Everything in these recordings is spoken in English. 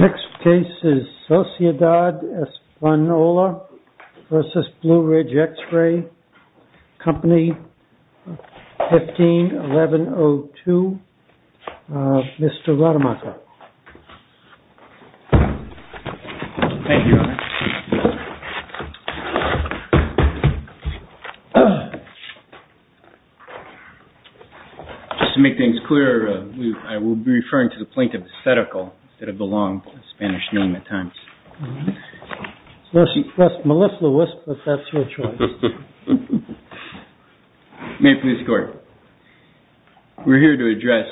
Next case is Sociedad Espanola v. Blue Ridge X-Ray Company, 15-1102. Mr. Rademacher. Thank you, Your Honor. Just to make things clear, I will be referring to the plaintiff's esthetical instead of the long Spanish name at times. Melissa Wisp, if that's your choice. May it please the Court. We're here to address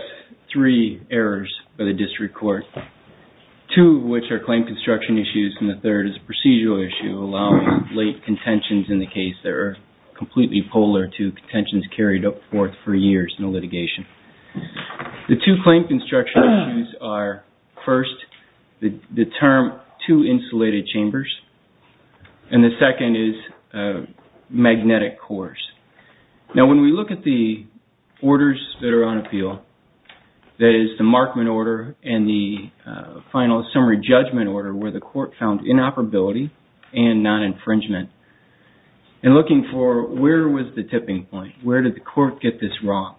three errors by the district court, two of which are claim construction issues and the third is a procedural issue allowing late contentions in the case that are completely polar to contentions carried forth for years in the litigation. The two claim construction issues are, first, the term two insulated chambers and the second is magnetic cores. Now, when we look at the orders that are on appeal, that is the Markman order and the final summary judgment order where the court found inoperability and non-infringement and looking for where was the tipping point, where did the court get this wrong?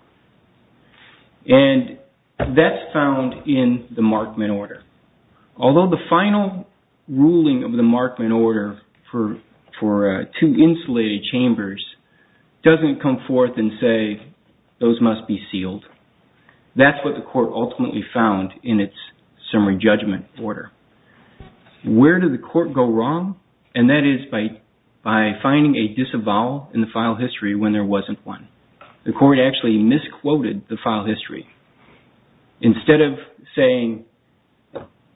And that's found in the Markman order. Although the final ruling of the Markman order for two insulated chambers doesn't come forth and say those must be sealed, that's what the court ultimately found in its summary judgment order. Where did the court go wrong? And that is by finding a disavowal in the Markman order, but there wasn't one. The court actually misquoted the file history. Instead of saying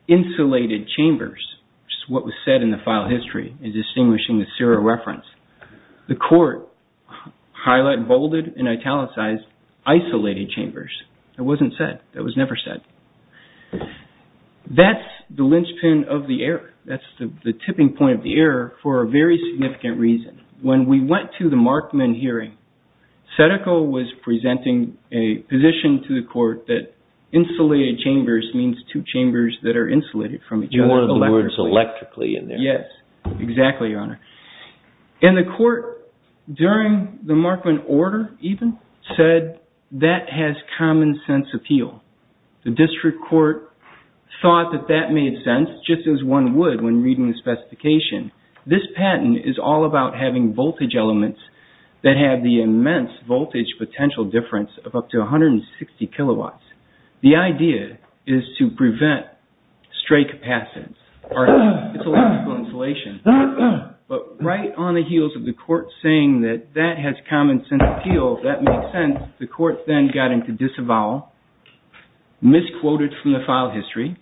insulated chambers, which is what was said in the file history in distinguishing the serial reference, the court highlighted, bolded and italicized isolated chambers. That wasn't said. That was never said. That's the linchpin of the error. That's the tipping point of the error for a very long time. SEDACO was presenting a position to the court that insulated chambers means two chambers that are insulated from each other. You wanted the words electrically in there. Yes, exactly, Your Honor. And the court during the Markman order even said that has common sense appeal. The district court thought that that made sense just as one would when reading the specification. This patent is all about having voltage elements that have the immense voltage potential difference of up to 160 kilowatts. The idea is to prevent stray capacitance. It's electrical insulation. But right on the heels of the court saying that that has common sense appeal, that made sense. The court then got into disavowal, misquoted from the file history,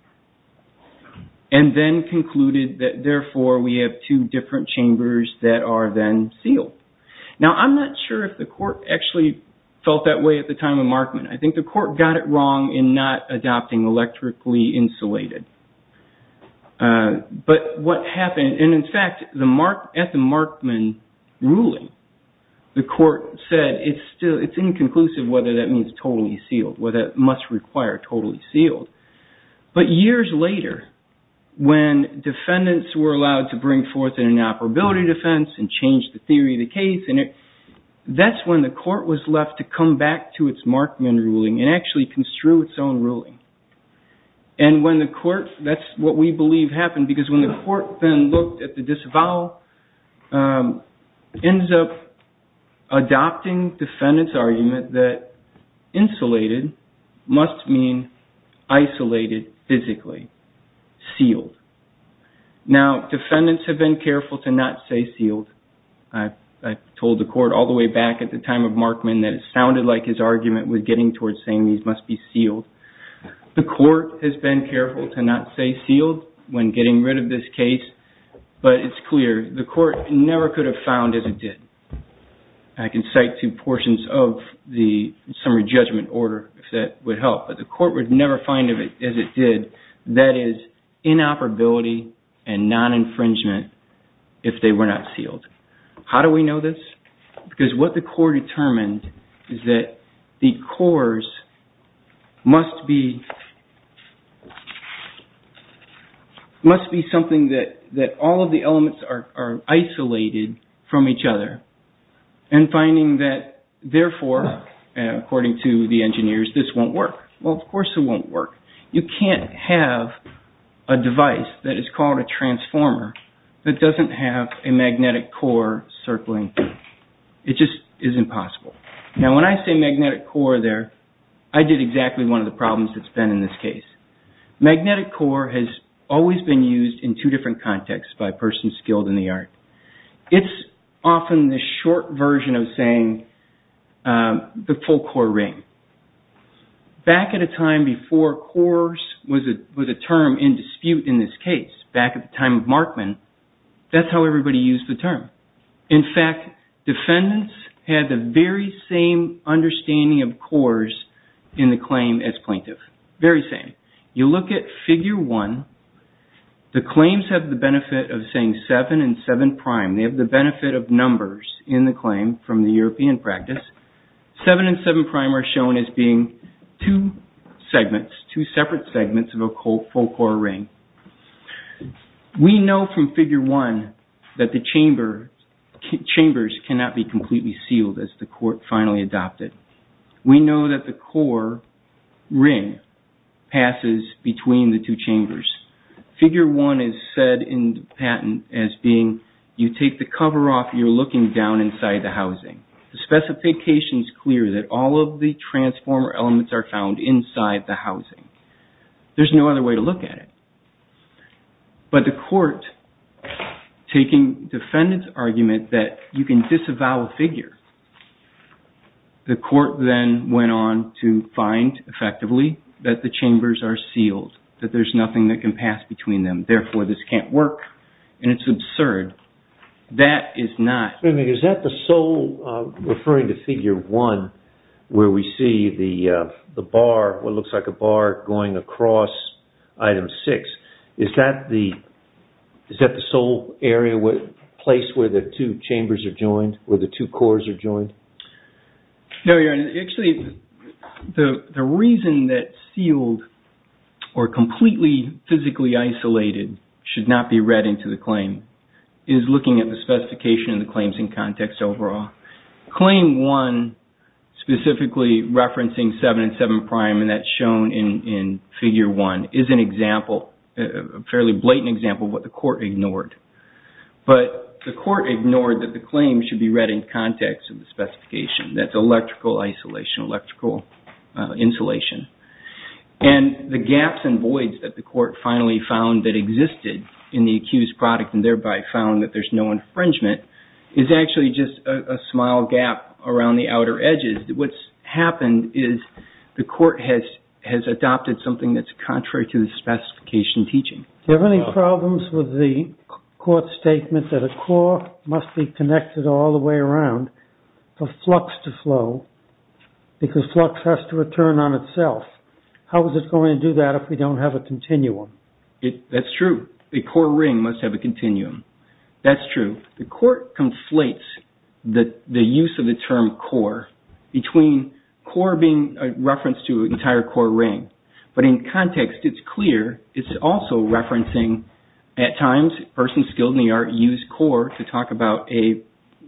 and then concluded that therefore we have two different chambers that are then sealed. Now, I'm not sure if the court actually felt that way at the time of Markman. I think the court got it wrong in not adopting electrically insulated. But what happened, and in fact at the Markman ruling, the court said it's inconclusive whether that means totally sealed, whether it must require totally sealed. But years later, when defendants were allowed to bring forth an inoperability defense and change the theory of the case, that's when the court was left to come back to its Markman ruling and actually construe its own ruling. And when the court, that's what we believe happened, because when the court then looked at the disavowal, ends up adopting defendants' argument that insulated must mean isolated physically, sealed. Now, defendants have been careful to not say sealed. I told the court all the way back at the time of Markman that it sounded like his argument was getting towards saying these must be sealed. The court has been careful to not say sealed when getting rid of this case, but it's clear the court never could have found as it did. I can cite two portions of the summary judgment order if that would help, but the court would never find as it did, that is, inoperability and non-infringement if they were not sealed. How do we know this? Because what the court determined is that the cores must be something that all of the elements are isolated from each other. And finding that, therefore, according to the engineers, this won't work. Well, of course it won't work. You can't have a device that is called a transformer that doesn't have a magnetic core circling through. It just is impossible. Now, when I say magnetic core there, I did exactly one of the problems that's been in this case. Magnetic core has always been used in two different contexts by persons skilled in the art. It's often the short version of saying the full core ring. Back at a time before cores was a term in dispute in this case, back at the time of Markman, that's how everybody used the term. In fact, defendants had the very same understanding of cores in the claim as plaintiff. Very same. You look at figure one, the claims have the benefit of saying seven and seven prime. They have the benefit of numbers in the claim from the European practice. Seven and seven prime are shown as being two segments, two separate segments of a full core ring. We know from figure one that the chambers cannot be completely sealed as the court finally adopted. We know that the core ring passes between the two chambers. Figure one is said in the patent as being you take the cover off, you're looking down inside the housing. The specification is clear that all of the transformer elements are found inside the housing. There's no other way to look at it. But the court, taking defendant's argument that you can disavow a figure, the court then went on to find effectively that the chambers are sealed, that there's nothing that can pass between them. Therefore, this can't work and it's absurd. That is not. Is that the sole, referring to figure one, where we see the bar, what looks like a bar going across item six. Is that the sole area, place where the two chambers are joined, where the two cores are joined? No, Your Honor. Actually, the reason that sealed or completely physically isolated should not be read into the claim is looking at the specification and the claims in context overall. Claim one, specifically referencing seven and seven prime, and that's shown in figure one, is an example, a fairly blatant example of what the court ignored. But the court ignored that the claim should be read in context of the specification. That's electrical isolation, electrical insulation. And the gaps and voids that the court finally found that existed in the accused product and thereby found that there's no infringement is actually just a small gap around the outer edges. What's happened is the court has adopted something that's contrary to the specification teaching. Do you have any problems with the court's statement that a core must be connected all the way around for flux to flow because flux has to return on itself? How is it going to do that if we don't have a continuum? That's true. A core ring must have a continuum. That's true. The court conflates the use of the term core between core being a reference to an entire core ring. But in context, it's clear it's also referencing at times persons skilled in the art use core to talk about a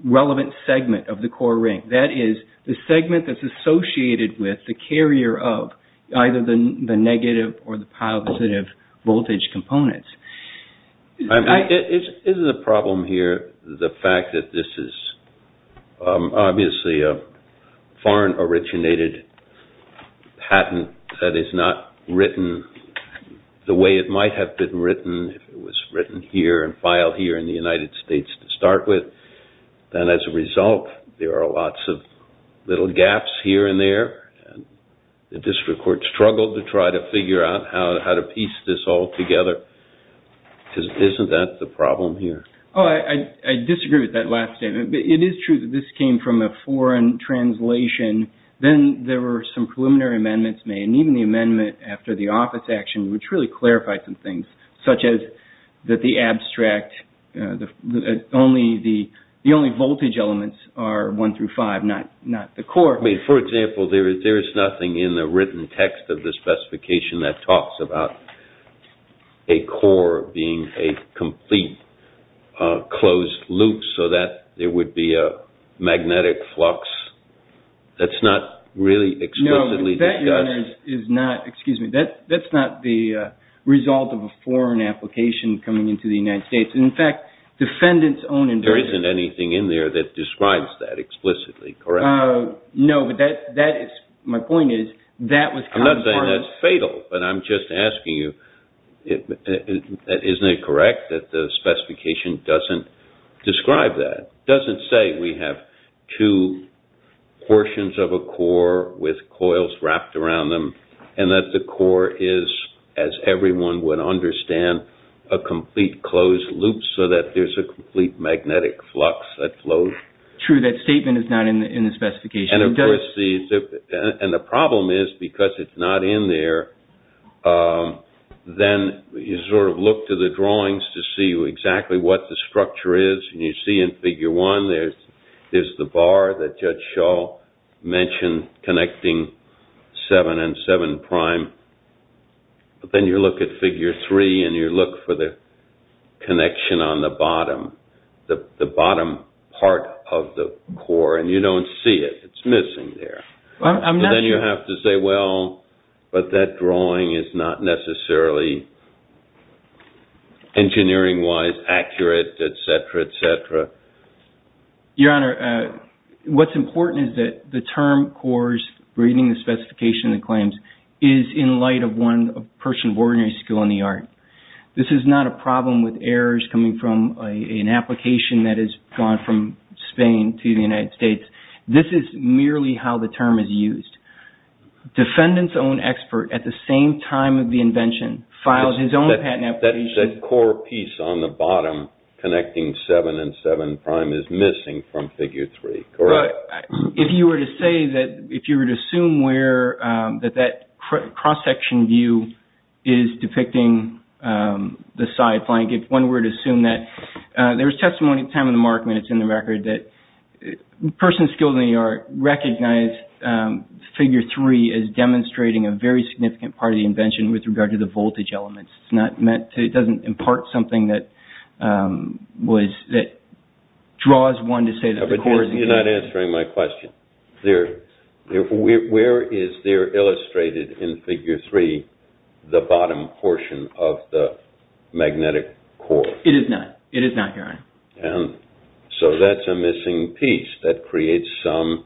relevant segment of the core ring. That is the segment that's associated with the carrier of either the negative or the positive voltage components. Is the problem here the fact that this is obviously a foreign originated patent that is not written the way it might have been written if it was written here and filed here in the United States to start with? Then as a result, there are lots of little gaps here and there. The district court struggled to try to figure out how to piece this all together. Isn't that the problem here? I disagree with that last statement. It is true that this came from a foreign translation. Then there were some preliminary amendments made. Even the amendment after the office action which really clarified some things such as that the abstract, the only voltage elements are one through five, not the core. For example, there is nothing in the written text of the specification that talks about a core being a complete closed loop so that there would be a magnetic flux. That's not really explicitly discussed. That's not the result of a foreign application coming into the United States. In fact, defendants own invoices. There isn't anything in there that describes that explicitly, correct? No, but my point is that was kind of part of it. I'm not saying that's fatal, but I'm just asking you, isn't it correct that the specification doesn't describe that? It doesn't say we have two portions of a core with coils wrapped around them and that the core is, as everyone would understand, a complete closed loop so that there's a complete magnetic flux that flows. True, that statement is not in the specification. And the problem is because it's not in there, then you sort of look to the drawings to see exactly what the structure is. And you see in Figure 1, there's the bar that Judge Shaw mentioned connecting 7 and 7 prime. But then you look at Figure 3 and you look for the connection on the bottom, the bottom part of the core, and you don't see it. It's missing there. Then you have to say, well, but that drawing is not necessarily engineering-wise accurate, et cetera, et cetera. Your Honor, what's important is that the term cores, reading the specification and claims, is in light of one person of ordinary skill in the art. This is not a problem with errors coming from an application that has gone from Spain to the United States. This is merely how the term is used. Defendant's own expert at the same time of the invention filed his own patent application. That core piece on the bottom connecting 7 and 7 prime is missing from Figure 3, correct? If you were to say that, if you were to assume that that cross-section view is depicting the side flank, if one were to assume that, there's testimony at the time of the mark when it's in the record that persons skilled in the art recognize Figure 3 as demonstrating a very significant part of the invention with regard to the voltage elements. It doesn't impart something that draws one to say that the core is engaged. You're not answering my question. Where is there illustrated in Figure 3 the bottom portion of the magnetic core? It is not. So that's a missing piece that creates some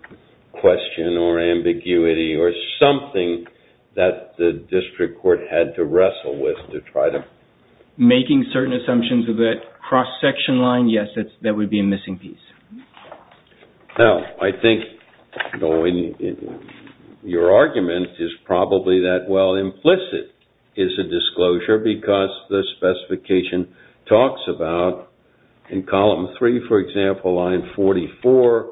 question or ambiguity or something that the district court had to wrestle with to try to... Making certain assumptions of that cross-section line, yes, that would be a missing piece. Now, I think your argument is probably that, well, implicit is a disclosure because the specification talks about in Column 3, for example, line 44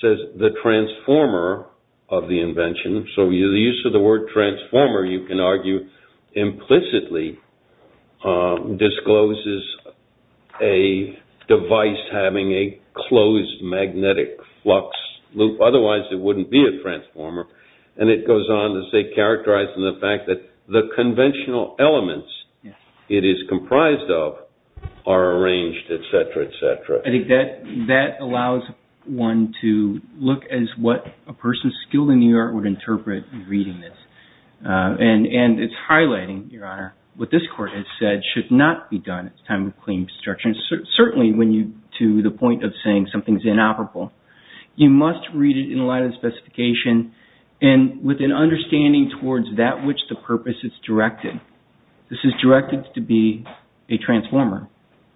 says the transformer of the invention. So the use of the word transformer, you can argue, implicitly discloses a device having a closed magnetic flux loop. Otherwise, it wouldn't be a transformer. And it goes on to say, characterizing the fact that the conventional elements it is comprised of are arranged, et cetera, et cetera. I think that allows one to look as what a person skilled in the art would interpret in reading this. And it's highlighting, Your Honor, what this court has said should not be done at the time of claim destruction, certainly to the point of saying something's inoperable. You must read it in light of the specification and with an understanding towards that which the purpose is directed. This is directed to be a transformer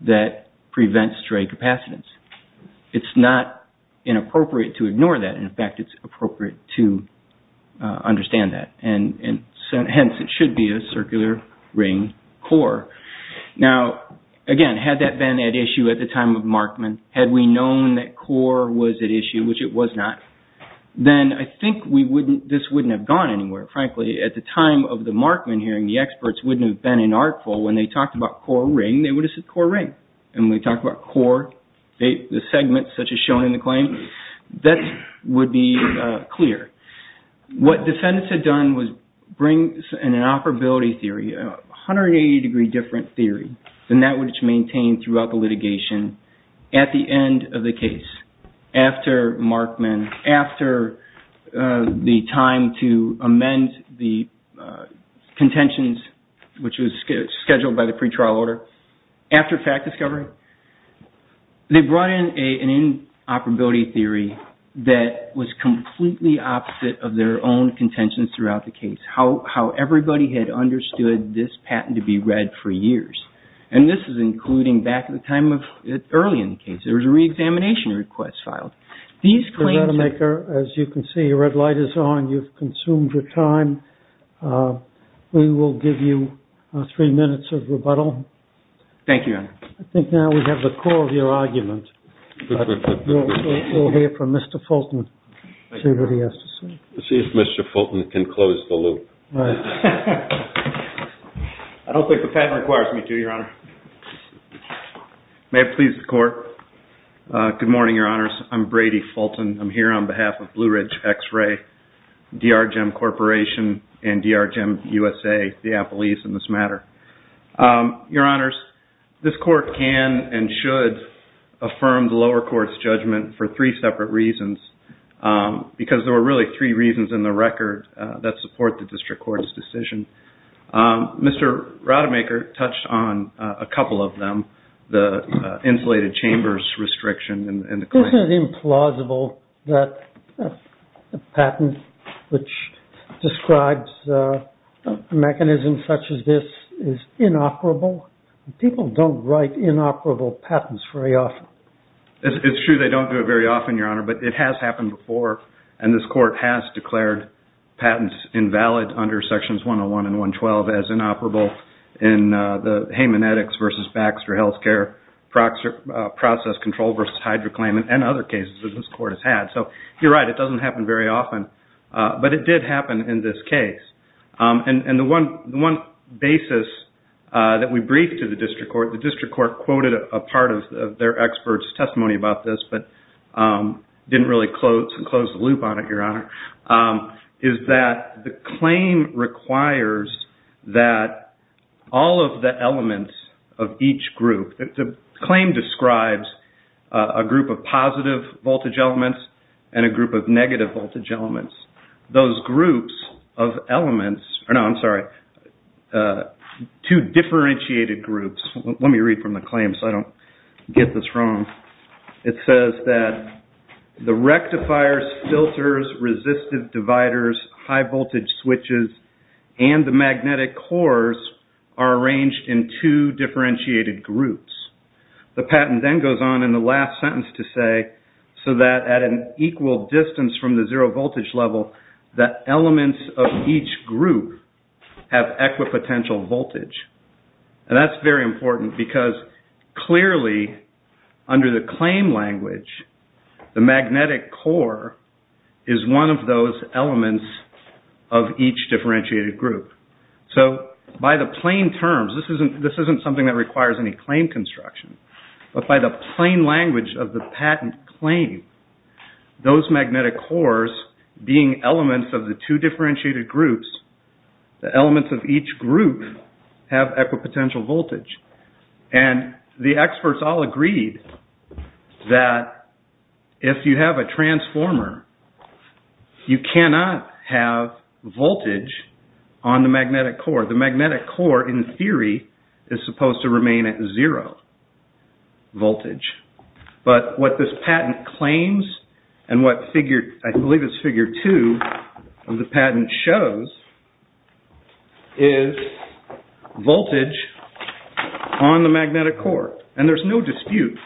that prevents stray capacitance. It's not inappropriate to ignore that. In fact, it's appropriate to understand that. And hence, it should be a circular ring core. Now, again, had that been at issue at the time of Markman, had we known that core was at issue, which it was not, then I think this wouldn't have gone anywhere. Frankly, at the time of the Markman hearing, the experts wouldn't have been inartful. When they talked about core ring, they would have said core ring. And when they talked about core, the segments such as shown in the claim, that would be clear. What defendants had done was bring an inoperability theory, a 180-degree different theory, than that which maintained throughout the litigation. At the end of the case, after Markman, after the time to amend the contentions, which was scheduled by the pretrial order, after fact discovery, they brought in an inoperability theory that was completely opposite of their own contentions throughout the case, how everybody And this is including back at the time of early in the case. There was a reexamination request filed. These claims... Your Honor, as you can see, the red light is on. You've consumed your time. We will give you three minutes of rebuttal. Thank you, Your Honor. I think now we have the core of your argument. We'll hear from Mr. Fulton, see what he has to say. Let's see if Mr. Fulton can close the loop. I don't think the patent requires me to, Your Honor. May it please the court. Good morning, Your Honors. I'm Brady Fulton. I'm here on behalf of Blue Ridge X-Ray, DRGEM Corporation, and DRGEM USA, the Apple East in this matter. Your Honors, this court can and should affirm the lower court's judgment for three separate reasons, because there were really three reasons in the record that support the district court's decision. Mr. Rademacher touched on a couple of them, the insulated chambers restriction and the claims. Isn't it implausible that a patent which describes a mechanism such as this is inoperable? People don't write inoperable patents very often. It's true they don't do it very often, Your Honor. But it has happened before, and this court has declared patents invalid under Sections 101 and 112 as inoperable in the Hayman-Eddox versus Baxter Healthcare process control versus HydroClaim and other cases that this court has had. You're right, it doesn't happen very often. But it did happen in this case. The one basis that we briefed to the district court, the district court quoted a part of their expert's testimony about this, but didn't really close the loop on it, Your Honor, is that the claim requires that all of the elements of each group, the claim describes a group of positive voltage elements and a group of negative voltage elements. Those groups of elements, or no, I'm sorry, two differentiated groups, let me read from the claim so I don't get this wrong. It says that the rectifiers, filters, resistive dividers, high voltage switches, and the magnetic cores are arranged in two differentiated groups. The patent then goes on in the last sentence to say, so that at an equal distance from the zero voltage level, that elements of each group have equipotential voltage. And that's very important because clearly under the claim language, the magnetic core is one of those elements of each differentiated group. So by the plain terms, this isn't something that requires any claim construction, but by the plain language of the patent claim, those magnetic cores being elements of the two differentiated groups, the elements of each group have equipotential voltage. And the experts all agreed that if you have a transformer, you cannot have voltage on the magnetic core. The magnetic core, in theory, is supposed to remain at zero voltage. But what this patent claims, and what I believe is figure two of the patent shows, is voltage on the magnetic core. And there's no dispute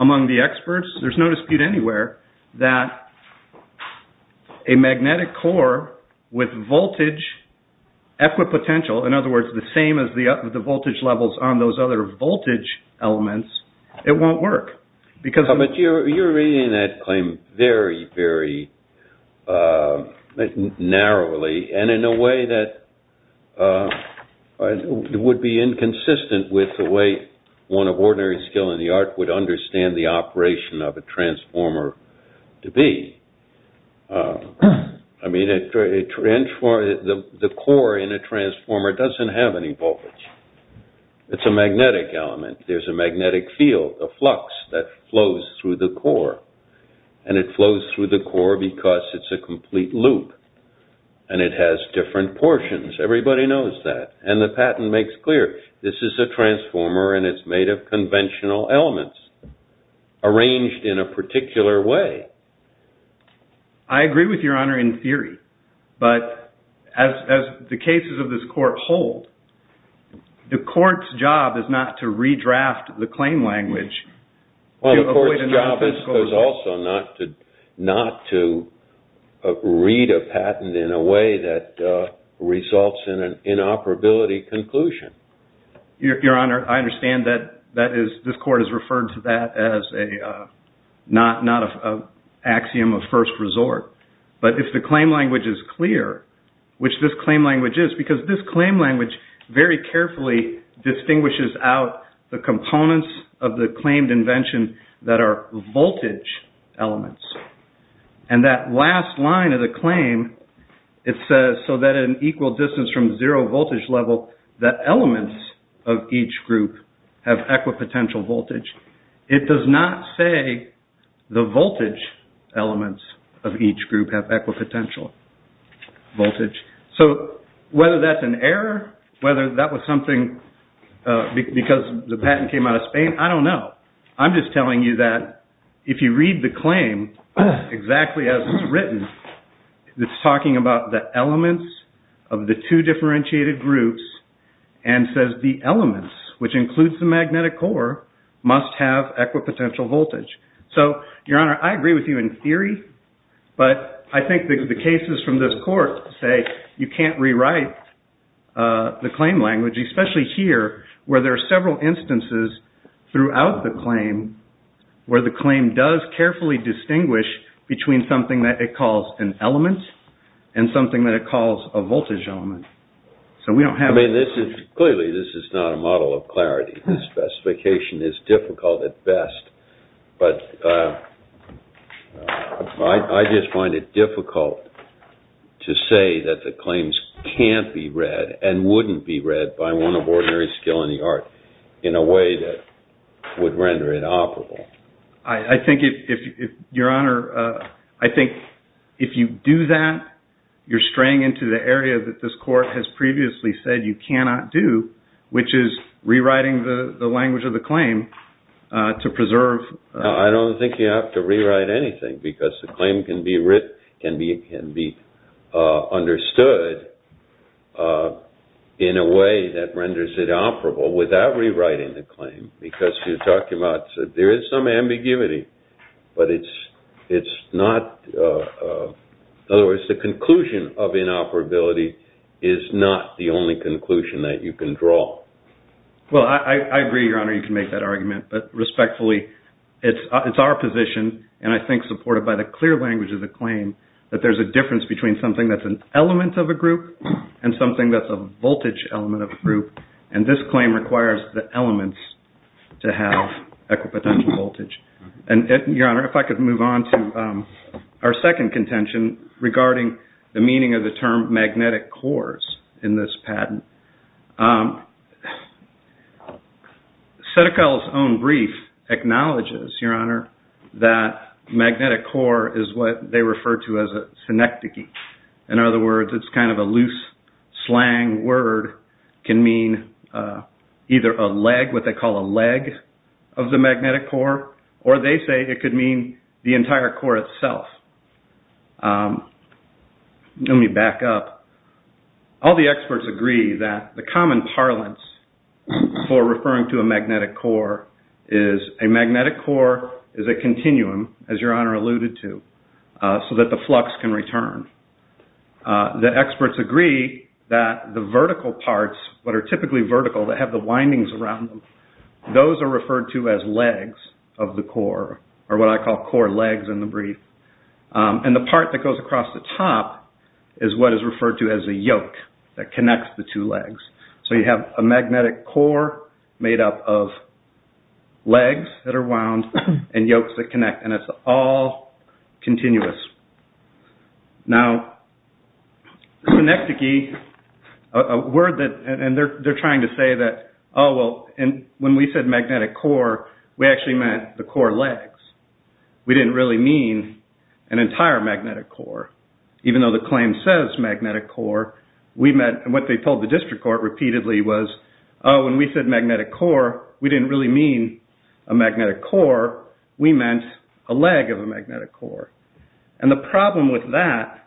among the experts. There's no dispute anywhere that a magnetic core with voltage equipotential, in other words, the same as the voltage levels on those other voltage elements, it won't work. But you're reading that claim very, very narrowly, and in a way that would be inconsistent with the way one of ordinary skill in the art would understand the operation of a transformer to be. I mean, the core in a transformer doesn't have any voltage. It's a magnetic element. There's a magnetic field, a flux that flows through the core. And it flows through the core because it's a complete loop. And it has different portions. Everybody knows that. And the patent makes clear, this is a transformer, and it's made of conventional elements arranged in a particular way. I agree with your honor in theory. But as the cases of this court hold, the court's job is not to redraft the claim language. The court's job is also not to read a patent in a way that results in an inoperability conclusion. Your honor, I understand that this court has referred to that as not an axiom of first resort. But if the claim language is clear, which this claim language is, because this claim language very carefully distinguishes out the components of the claimed invention that are voltage elements. And that last line of the claim, it says, so that at an equal distance from zero voltage level, the elements of each group have equipotential voltage. It does not say the voltage elements of each group have equipotential voltage. So whether that's an error, whether that was something because the patent came out of Spain, I don't know. I'm just telling you that if you read the claim exactly as it's written, it's talking about the elements of the two differentiated groups, and says the elements, which includes the magnetic core, must have equipotential voltage. So, your honor, I agree with you in theory. But I think the cases from this court say you can't rewrite the claim language, especially here where there are several instances throughout the claim where the claim does carefully distinguish between something that it calls an element and something that it calls a voltage element. So we don't have this is clearly this is not a model of clarity. The specification is difficult at best. But I just find it difficult to say that the claims can't be read and wouldn't be read by one of ordinary skill in the art in a way that would render it operable. I think if your honor, I think if you do that, you're straying into the area that this court has previously said you cannot do, which is rewriting the language of the claim to preserve. I don't think you have to rewrite anything because the claim can be written, can be understood in a way that renders it operable without rewriting the claim. Because you're talking about there is some ambiguity, but it's not. In other words, the conclusion of inoperability is not the only conclusion that you can draw. Well, I agree, your honor, you can make that argument. But respectfully, it's our position and I think supported by the clear language of the claim that there's a difference between something that's an element of a group and something that's a voltage element of a group. And this claim requires the elements to have equipotential voltage. And your honor, if I could move on to our second contention regarding the meaning of the term magnetic cores in this patent. Setticall's own brief acknowledges, your honor, that magnetic core is what they refer to as a synecdoche. In other words, it's kind of a loose slang word, can mean either a leg, what they call a leg of the magnetic core, or they say it could mean the entire core itself. Let me back up. All the experts agree that the common parlance for referring to a magnetic core is a magnetic core is a continuum, as your honor alluded to, so that the flux can return. The experts agree that the vertical parts, what are typically vertical that have the windings around them, those are referred to as legs of the core, or what I call core legs in the brief. And the part that goes across the top is what is referred to as a yoke that connects the two legs. So you have a magnetic core made up of legs that are wound and yokes that connect. And it's all continuous. Now, synecdoche, a word that they're trying to say that, oh, well, when we said magnetic core, we actually meant the core legs. We didn't really mean an entire magnetic core. Even though the claim says magnetic core, what they told the district court repeatedly was, oh, when we said magnetic core, we didn't really mean a magnetic core. We meant a leg of a magnetic core. And the problem with that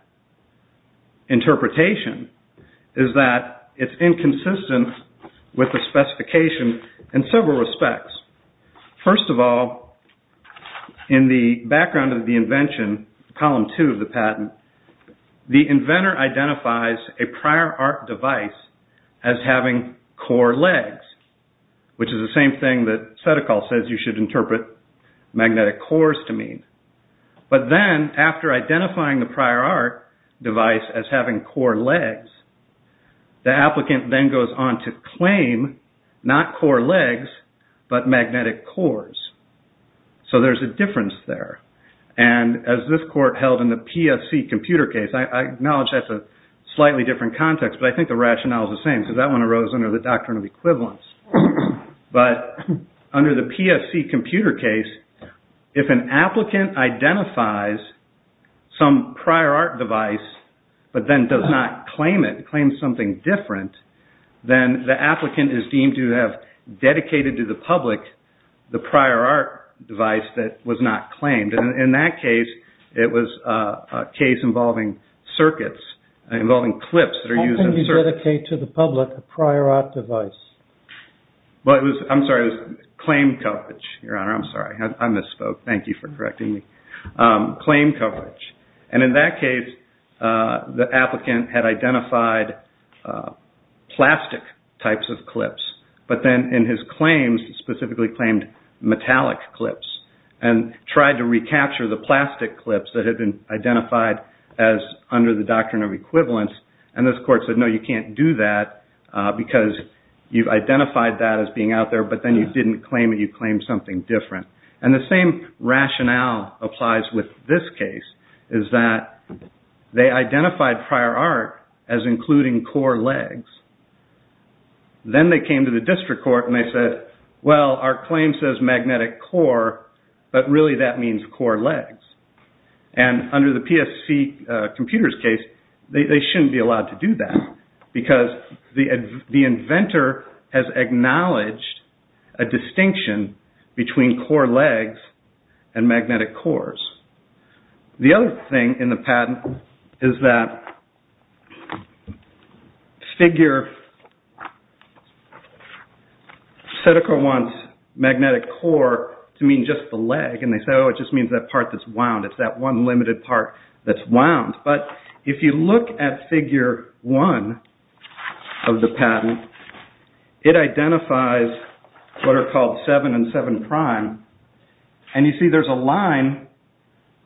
interpretation is that it's inconsistent with the specification in several respects. First of all, in the background of the invention, column two of the patent, the inventor identifies a prior art device as having core legs, which is the same thing that Seticol says you should interpret magnetic cores to mean. But then after identifying the prior art device as having core legs, the applicant then goes on to claim not core legs, but magnetic cores. So there's a difference there. And as this court held in the PSC computer case, I acknowledge that's a slightly different context, but I think the rationale is the same. Because that one arose under the doctrine of equivalence. But under the PSC computer case, if an applicant identifies some prior art device, but then does not claim it, claims something different, then the applicant is deemed to have dedicated to the public the prior art device that was not claimed. And in that case, it was a case involving circuits, involving clips that are used in circuits. Dedicate to the public a prior art device. I'm sorry, it was claim coverage, Your Honor. I'm sorry, I misspoke. Thank you for correcting me. Claim coverage. And in that case, the applicant had identified plastic types of clips. But then in his claims, he specifically claimed metallic clips and tried to recapture the plastic clips that had been identified as under the doctrine of equivalence. And this court said, no, you can't do that because you've identified that as being out there, but then you didn't claim it, you claimed something different. And the same rationale applies with this case, is that they identified prior art as including core legs. Then they came to the district court and they said, well, our claim says magnetic core, but really that means core legs. And under the PSC computer's case, they shouldn't be allowed to do that because the inventor has acknowledged a distinction between core legs and magnetic cores. The other thing in the patent is that figure, Sedeco wants magnetic core to mean just the leg. And they say, oh, it just means that part that's wound. It's that one limited part that's wound. But if you look at figure one of the patent, it identifies what are called seven and seven prime. And you see there's a line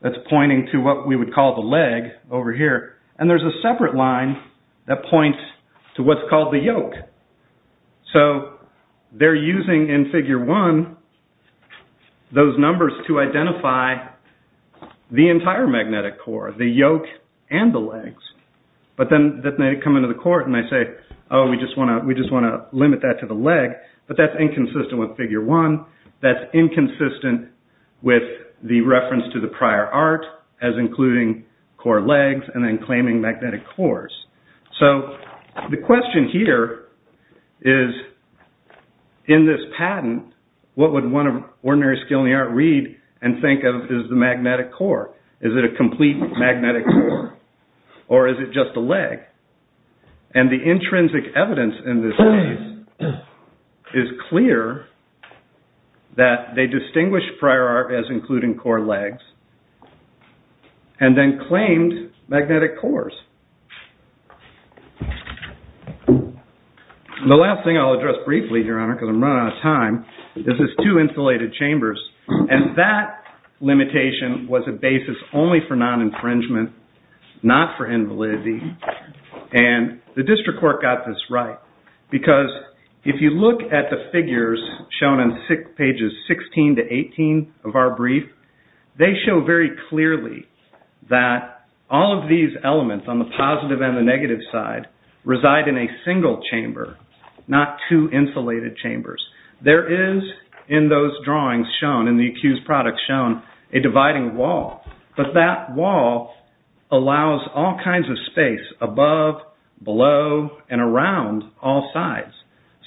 that's pointing to what we would call the leg over here. And there's a separate line that points to what's called the yoke. So they're using in figure one those numbers to identify the entire magnetic core, the yoke and the legs. But then they come into the court and they say, oh, we just want to limit that to the leg. But that's inconsistent with figure one. That's inconsistent with the reference to the prior art as including core legs and then claiming magnetic cores. So the question here is in this patent, what would one of ordinary skill in the art read and think of as the magnetic core? Is it a complete magnetic core or is it just a leg? And the intrinsic evidence in this case is clear that they distinguished prior art as including core legs and then claimed magnetic cores. The last thing I'll address briefly, Your Honor, because I'm running out of time, is this two insulated chambers. And that limitation was a basis only for non-infringement, not for invalidity. And the district court got this right because if you look at the figures shown in pages 16 to 18 of our brief, they show very clearly that all of these elements on the positive and the negative side reside in a single chamber, not two insulated chambers. There is in those drawings shown, in the accused products shown, a dividing wall. But that wall allows all kinds of space above, below, and around all sides.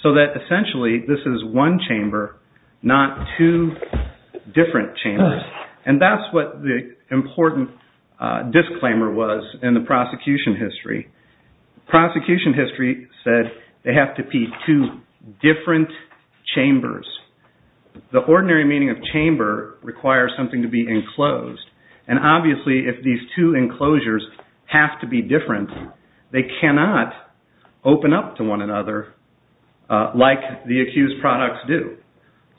So that essentially this is one chamber, not two different chambers. And that's what the important disclaimer was in the prosecution history. Prosecution history said they have to be two different chambers. The ordinary meaning of chamber requires something to be enclosed. And obviously if these two enclosures have to be different, they cannot open up to one another like the accused products do.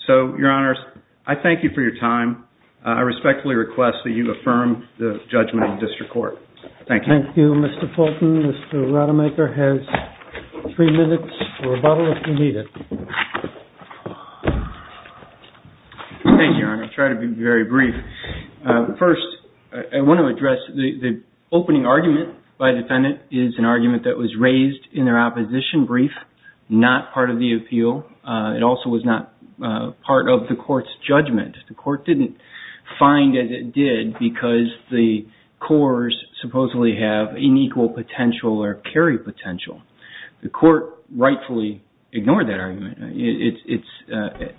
So, Your Honors, I thank you for your time. I respectfully request that you affirm the judgment of the district court. Thank you. Thank you, Mr. Fulton. Mr. Rademacher has three minutes for rebuttal if you need it. Thank you, Your Honor. I'll try to be very brief. First, I want to address the opening argument by the defendant is an argument that was raised in their opposition brief, not part of the appeal. It also was not part of the court's judgment. The court didn't find as it did because the cores supposedly have unequal potential or carry potential. The court rightfully ignored that argument. It's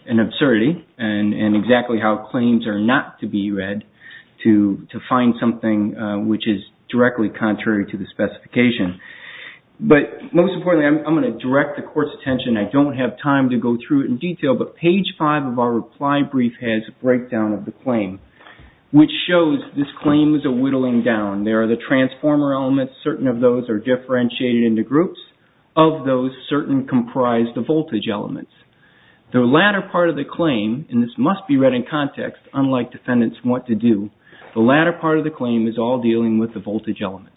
an absurdity and exactly how claims are not to be read to find something which is directly contrary to the specification. But most importantly, I'm going to direct the court's attention. I don't have time to go through it in detail, but page five of our reply brief has a breakdown of the claim, which shows this claim is a whittling down. There are the transformer elements. Certain of those are differentiated into groups. Of those, certain comprise the voltage elements. The latter part of the claim, and this must be read in context, unlike defendants want to do, the latter part of the claim is all dealing with the voltage elements.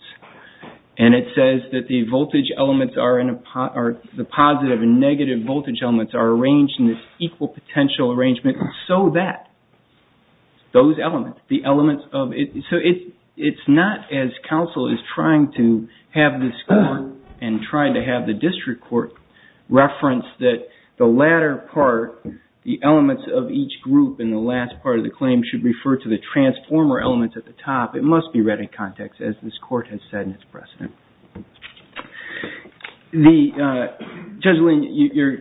And it says that the positive and negative voltage elements are arranged in this equal potential arrangement so that those elements, the elements of it. So it's not as counsel is trying to have this court and try to have the district court reference that the latter part, the elements of each group in the last part of the claim should refer to the transformer elements at the top. It must be read in context, as this court has said in its precedent. Judge Lane, you're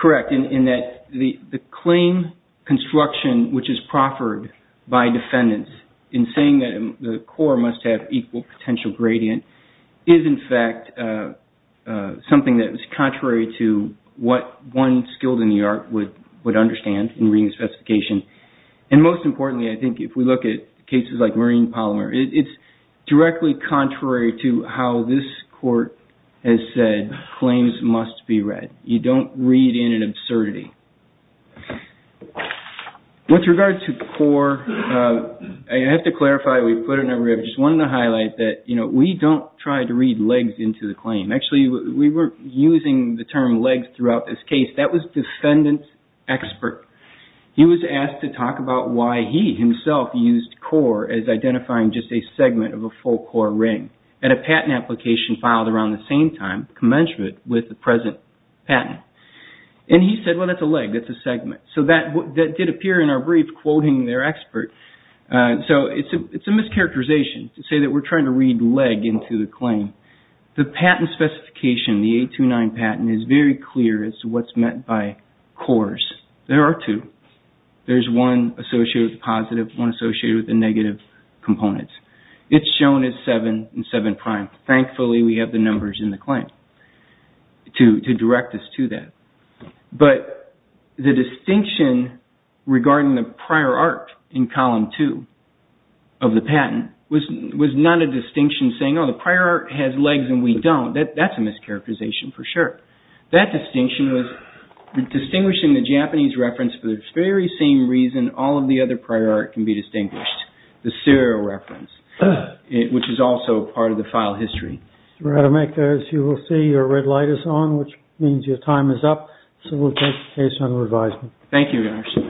correct in that the claim construction, which is proffered by defendants in saying that the core must have equal potential gradient, is in fact something that is contrary to what one skilled in the art would understand in reading the specification. And most importantly, I think if we look at cases like marine polymer, it's directly contrary to how this court has said claims must be read. You don't read in an absurdity. With regard to core, I have to clarify, we've put it in our review. I just wanted to highlight that we don't try to read legs into the claim. Actually, we were using the term legs throughout this case. That was defendant's expert. He was asked to talk about why he himself used core as identifying just a segment of a full core ring at a patent application filed around the same time, commencement, with the present patent. And he said, well, that's a leg. That's a segment. So, that did appear in our brief quoting their expert. So, it's a mischaracterization to say that we're trying to read leg into the claim. The patent specification, the 829 patent, is very clear as to what's meant by cores. There are two. There's one associated with the positive, one associated with the negative components. It's shown as 7 and 7 prime. Thankfully, we have the numbers in the claim to direct us to that. But the distinction regarding the prior art in column 2 of the patent was not a distinction saying, oh, the prior art has legs and we don't. That's a mischaracterization for sure. That distinction was distinguishing the Japanese reference for the very same reason all of the other prior art can be distinguished, the serial reference, which is also part of the file history. Rademacher, as you will see, your red light is on, which means your time is up. So, we'll take the case on revision. Thank you.